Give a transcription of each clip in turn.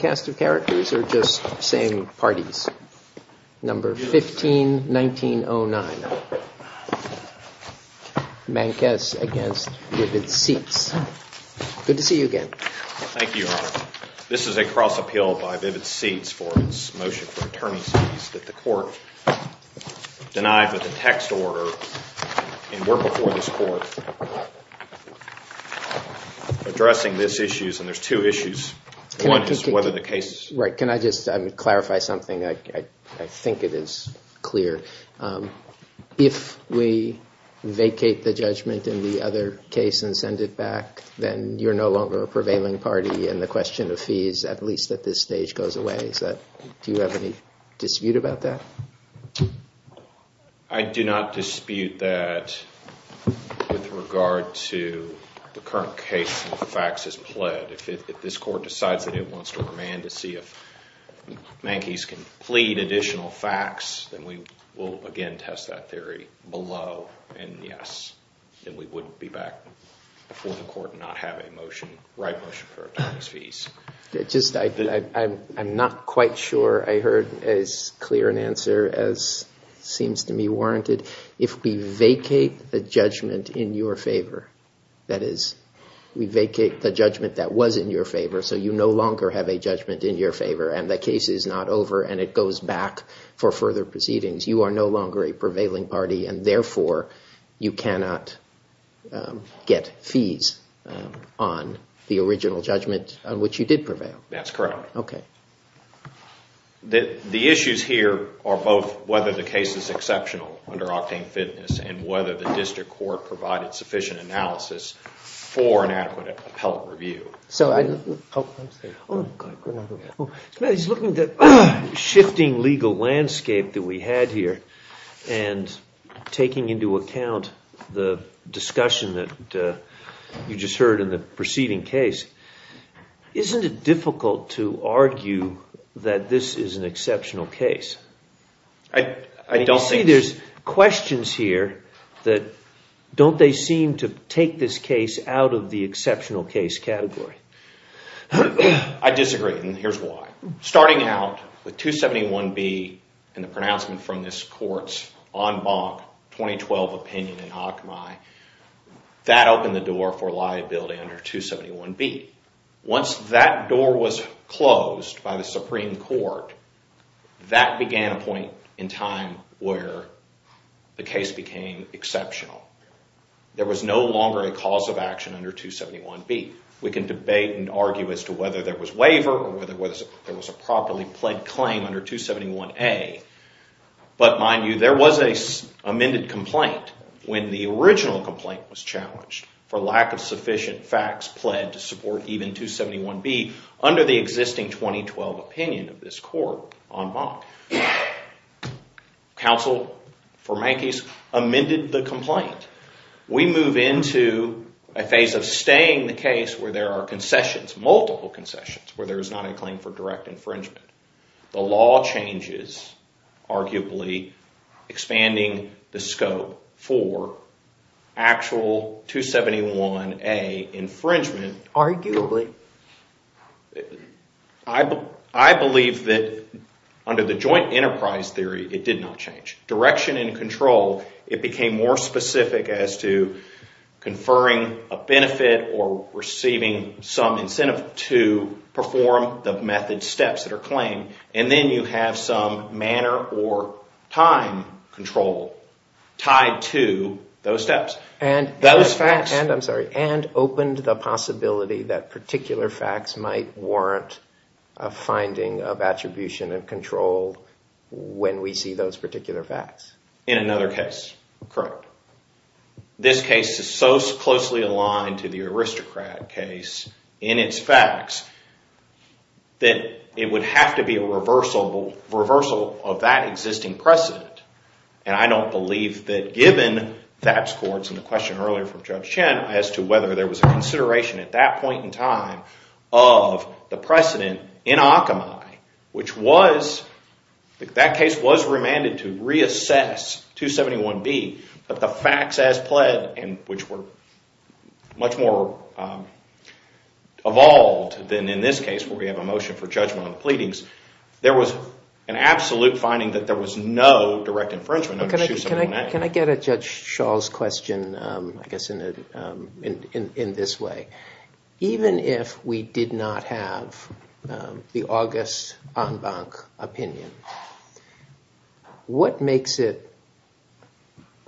Thank you, Your Honor. This is a cross appeal by Vivid Seats for its motion for attorney's fees that the court denied with a text order in work before this court addressing this case. Can I just clarify something? I think it is clear. If we vacate the judgment in the other case and send it back, then you're no longer a prevailing party and the question of fees, at least at this stage, goes away. Do you have any dispute about that? I do not but if this court decides that it wants to remand to see if Mankes can plead additional facts, then we will again test that theory below and yes, then we would be back before the court and not have a motion, right motion for attorney's fees. I'm not quite sure I heard as clear an answer as seems to me warranted. If we vacate the judgment in your favor, that vacate the judgment that was in your favor so you no longer have a judgment in your favor and the case is not over and it goes back for further proceedings, you are no longer a prevailing party and therefore you cannot get fees on the original judgment on which you did prevail. That's correct. The issues here are both whether the case is exceptional under octane fitness and whether the district court provided sufficient analysis for an adequate appellate review. He's looking at the shifting legal landscape that we had here and taking into account the discussion that you just heard in the preceding case. Isn't it difficult to argue that this is an exceptional case? You see there's questions here that don't they seem to take this case out of the exceptional case category? I disagree and here's why. Starting out with 271B and the pronouncement from this court's 2012 opinion in Akhmai, that opened the door for liability under 271B. Once that door was closed by the Supreme Court, that began a point in time where the case became exceptional. There was no longer a cause of action under 271B. We can debate and argue as to whether there was amended complaint when the original complaint was challenged for lack of sufficient facts pledged to support even 271B under the existing 2012 opinion of this court on bond. Council for my case amended the complaint. We move into a phase of staying the case where there are concessions, multiple concessions, where there is not a claim for direct infringement. The law changes arguably expanding the scope for actual 271A infringement. Arguably. I believe that under the joint enterprise theory it did not change. Direction and control it became more specific as to conferring a benefit or receiving some incentive to perform the method that are claimed. Then you have some manner or time control tied to those steps. And opened the possibility that particular facts might warrant a finding of attribution and control when we see those particular facts. In another case. This case is so closely aligned to the it would have to be a reversal of that existing precedent. And I don't believe that given that's courts and the question earlier from Judge Chen as to whether there was a consideration at that point in time of the precedent in Akamai which was that case was remanded to reassess 271B but the facts as pledged and which were much more evolved than in this case where we have a pleadings. There was an absolute finding that there was no direct infringement under 271A. Can I get a Judge Shaw's question? I guess in this way. Even if we did not have the August Anbank opinion, what makes it,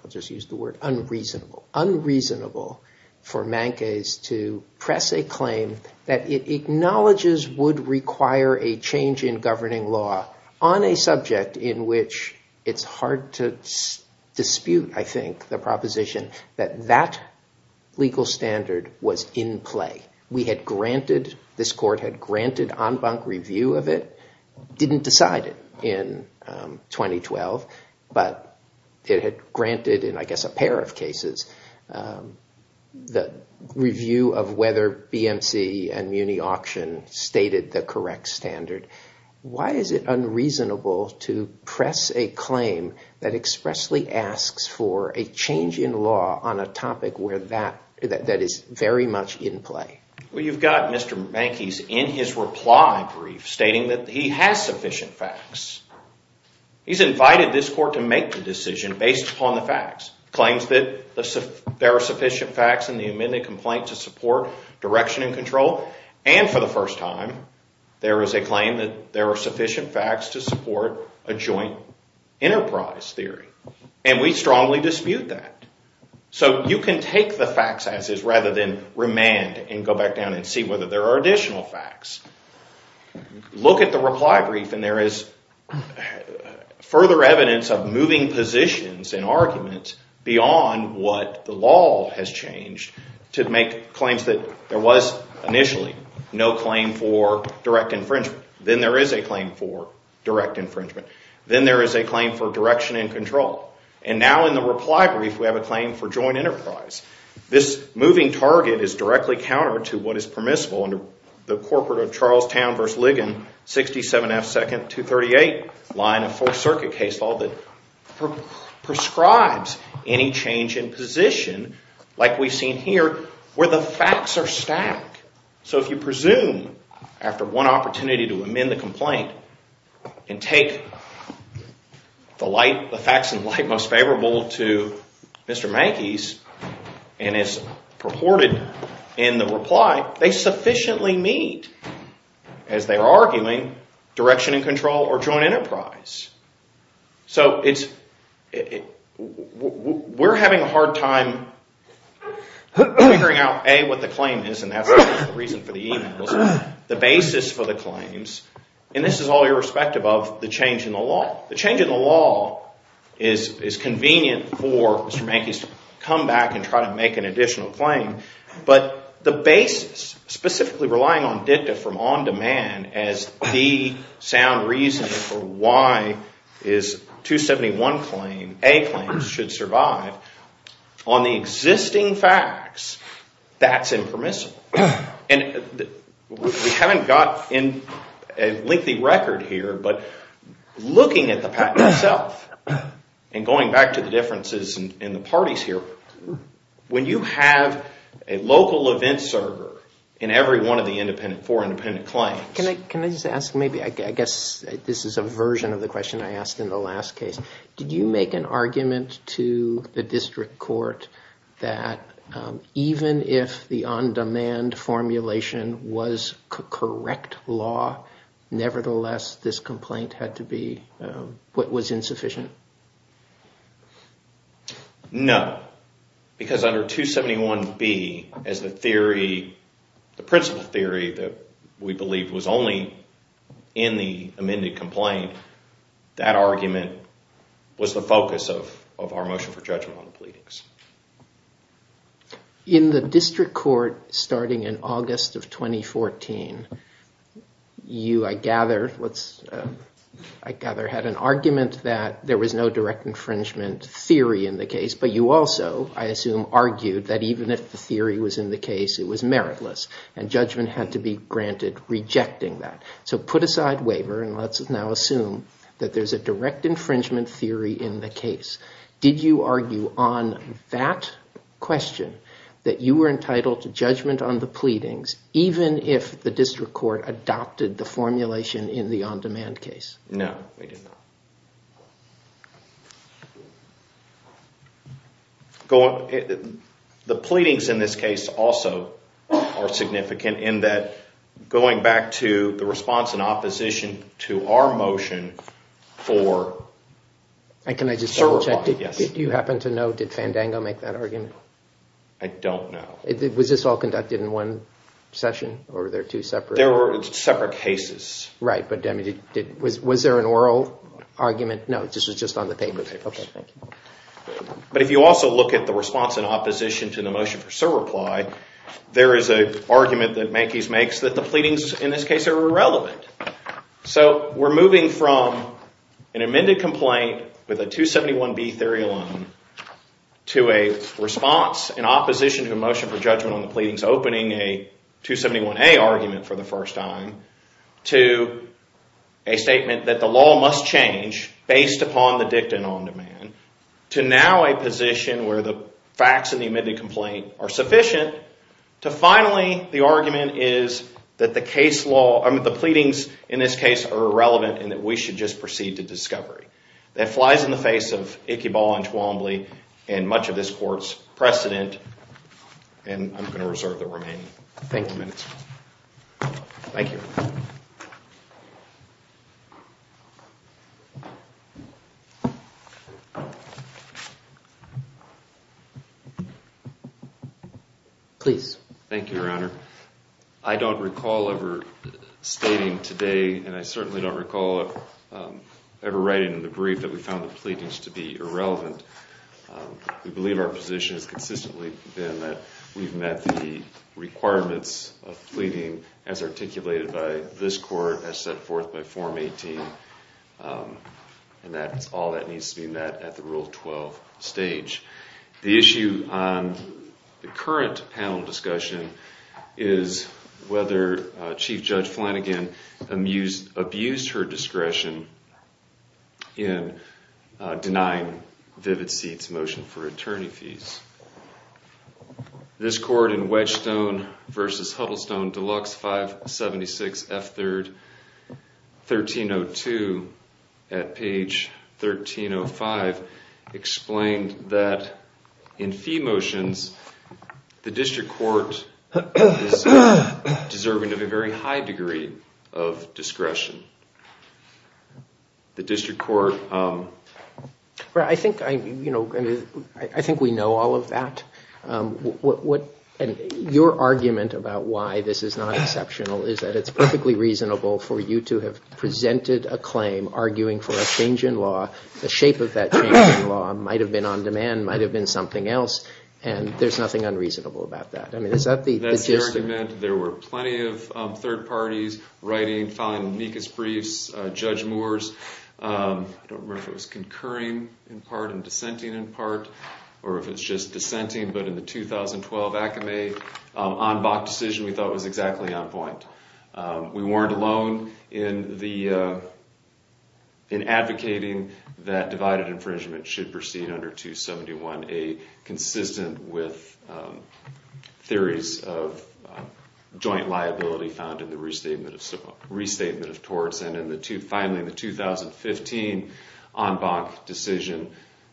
I'll just use the word unreasonable, unreasonable for Mankes to press a claim that it acknowledges would require a change in governing law on a subject in which it's hard to dispute, I think, the proposition that that legal standard was in play. We had granted, this court had granted Anbank review of it. Didn't decide it in 2012, but it had granted in, I guess, a pair of cases the review of whether BMC and Muni Auction stated the correct standard. Why is it unreasonable to press a claim that expressly asks for a change in law on a topic where that is very much in play? Well, you've got Mr. Mankes in his reply brief stating that he has sufficient facts. He's invited this court to make the decision based upon the facts. Claims that there are sufficient facts in the amended complaint to support direction and control, and for the first time, there is a claim that there are sufficient facts to support a joint enterprise theory, and we strongly dispute that. So you can take the facts rather than remand and go back down and see whether there are additional facts. Look at the reply brief and there is further evidence of moving positions and arguments beyond what the law has changed to make claims that there was initially no claim for direct infringement. Then there is a claim for direct infringement. Then there is a claim for direction and control. And now in the reply brief, we have a claim for joint enterprise. This moving target is directly counter to what is permissible under the corporate of Charlestown v. Ligon, 67 F. 2nd, 238, line of fourth circuit case law that prescribes any change in position like we've seen here where the facts are stacked. So if you presume after one opportunity to amend the complaint and take the facts in light most favorable to Mr. Mackey's and it's purported in the reply, they sufficiently meet, as they are arguing, direction and control or joint enterprise. So we're having a hard time figuring out, A, what the claim is, and that's the reason for the change in the law. The change in the law is convenient for Mr. Mackey's to come back and try to make an additional claim. But the basis, specifically relying on dicta from on demand as the sound reason for why his 271 claim, A claim, should survive, on the existing facts, that's impermissible. And we haven't got a lengthy record here, but looking at the patent itself and going back to the differences in the parties here, when you have a local event server in every one of the four independent claims. Can I just ask maybe, I guess this is a version of the question I asked in the last case, did you make an argument to the district court that even if the on-demand formulation was correct law, nevertheless, this complaint had to be what was insufficient? No, because under 271B, as the theory, the principle theory that we believe was only in the amended complaint, that argument was the focus of our motion for judgment on the pleadings. In the district court starting in August of 2014, you, I gather, had an argument that there was no direct infringement theory in the case, but you also, I assume, argued that even if the theory was in the case, it was meritless and judgment had to be granted rejecting that. So put aside waiver and let's now assume that there's a direct infringement theory in the case. Did you argue on that question that you were entitled to judgment on the pleadings, even if the district court adopted the formulation in the on-demand case? No, we did not. The pleadings in this case also are significant in that going back to the response in opposition to our motion for server blocking. Can I just interject, did you happen to know, did Fandango make that argument? I don't know. Was this all conducted in one session or were there two separate? There were separate cases. Right, but was there an oral argument? No, this was just on the table. Okay, thank you. But if you also look at the response in opposition to the motion for server ply, there is an argument that Mankies makes that the pleadings in this case are irrelevant. So we're moving from an amended complaint with a 271B theory alone to a response in opposition to a motion for judgment on the pleadings, opening a 271A argument for the first time, to a statement that the law must change based upon the dicta and on-demand, to now a position where the facts of the amended complaint are sufficient, to finally the argument is that the case law, I mean the pleadings in this case are irrelevant and that we should just proceed to discovery. That flies in the face of Icky Ball and Twombly and much of this court's precedent and I'm going to reserve the remaining minutes. Thank you. Please. Thank you, Your Honor. I don't recall ever stating today and I certainly don't recall ever writing in the brief that we found the pleadings to be irrelevant. We believe our position has consistently been that we've met the requirements of pleading as articulated by this court as set forth by Form 18 and that's all that needs to be met at the Rule 12 stage. The issue on the current panel discussion is whether Chief Judge Flanagan abused her discretion in denying Vivid Seat's motion for attorney fees. This court in Wedgestone v. Huddlestone, Deluxe 576 F3, 1302 at page 1305 explained that in fee motions the district court is deserving of a very high degree of discretion. The district court... I think we know all of that. Your argument about why this is not exceptional is that it's perfectly reasonable for you to have presented a claim arguing for a change in law. The shape of that change in law might have been on demand, might have been something else, and there's nothing unreasonable about that. I mean is that the... That's your argument. There were plenty of third parties writing, filing amicus briefs, Judge Moore's. I don't know if it's in part and dissenting in part or if it's just dissenting, but in the 2012 ACME en banc decision we thought was exactly on point. We weren't alone in advocating that divided infringement should proceed under 271A consistent with theories of joint liability found in the restatement of torts. And finally in the 2015 en banc decision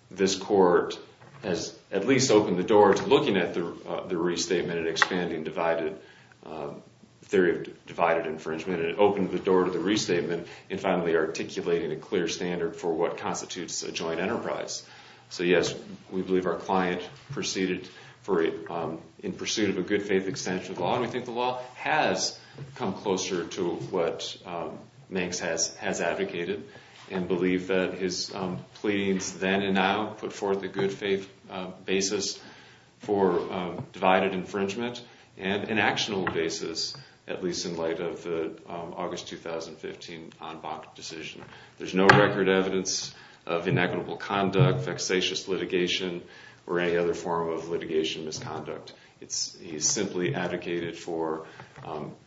this court has at least opened the door to looking at the restatement and expanding theory of divided infringement. It opened the door to the restatement and finally articulating a clear standard for what constitutes a joint enterprise. So yes, we believe our client proceeded in pursuit of a good faith extension of the law and we think the law has come closer to what Manx has advocated and believe that his pleadings then and now put forth the good faith basis for divided infringement and an actional basis, at least in light of the August 2015 en banc decision. There's no record evidence of inequitable conduct, vexatious litigation, or any other form of litigation misconduct. It's he's simply advocated for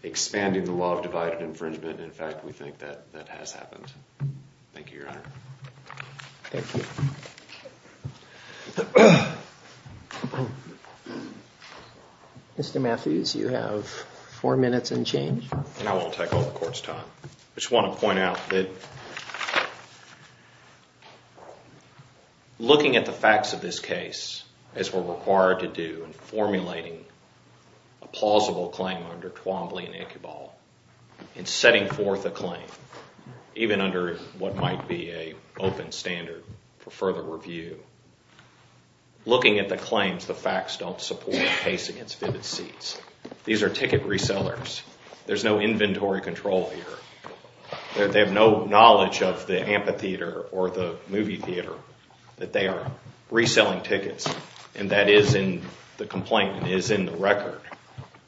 expanding the law of divided infringement. In fact, we think that that has happened. Thank you, your honor. Thank you. Mr. Matthews, you have four minutes and change. And I won't take all the court's time. I just want to thank you for formulating a plausible claim under Twombly and Iqbal and setting forth a claim even under what might be a open standard for further review. Looking at the claims, the facts don't support the case against Vivid Seeds. These are ticket resellers. There's no inventory control here. They have no knowledge of the amphitheater or the movie theater that they are reselling tickets. And that is in the complaint, is in the record.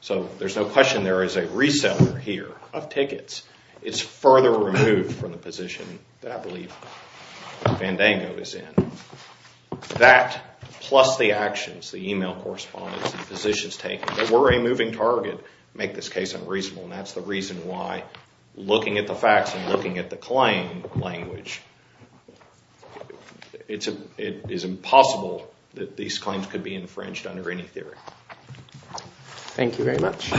So there's no question there is a reseller here of tickets. It's further removed from the position that I believe Vandango is in. That plus the actions, the email correspondence, the positions taken that were a moving target make this case unreasonable. And that's the reason why looking at the facts and looking at the claim language, it is impossible that these claims could be infringed under any theory. Thank you very much.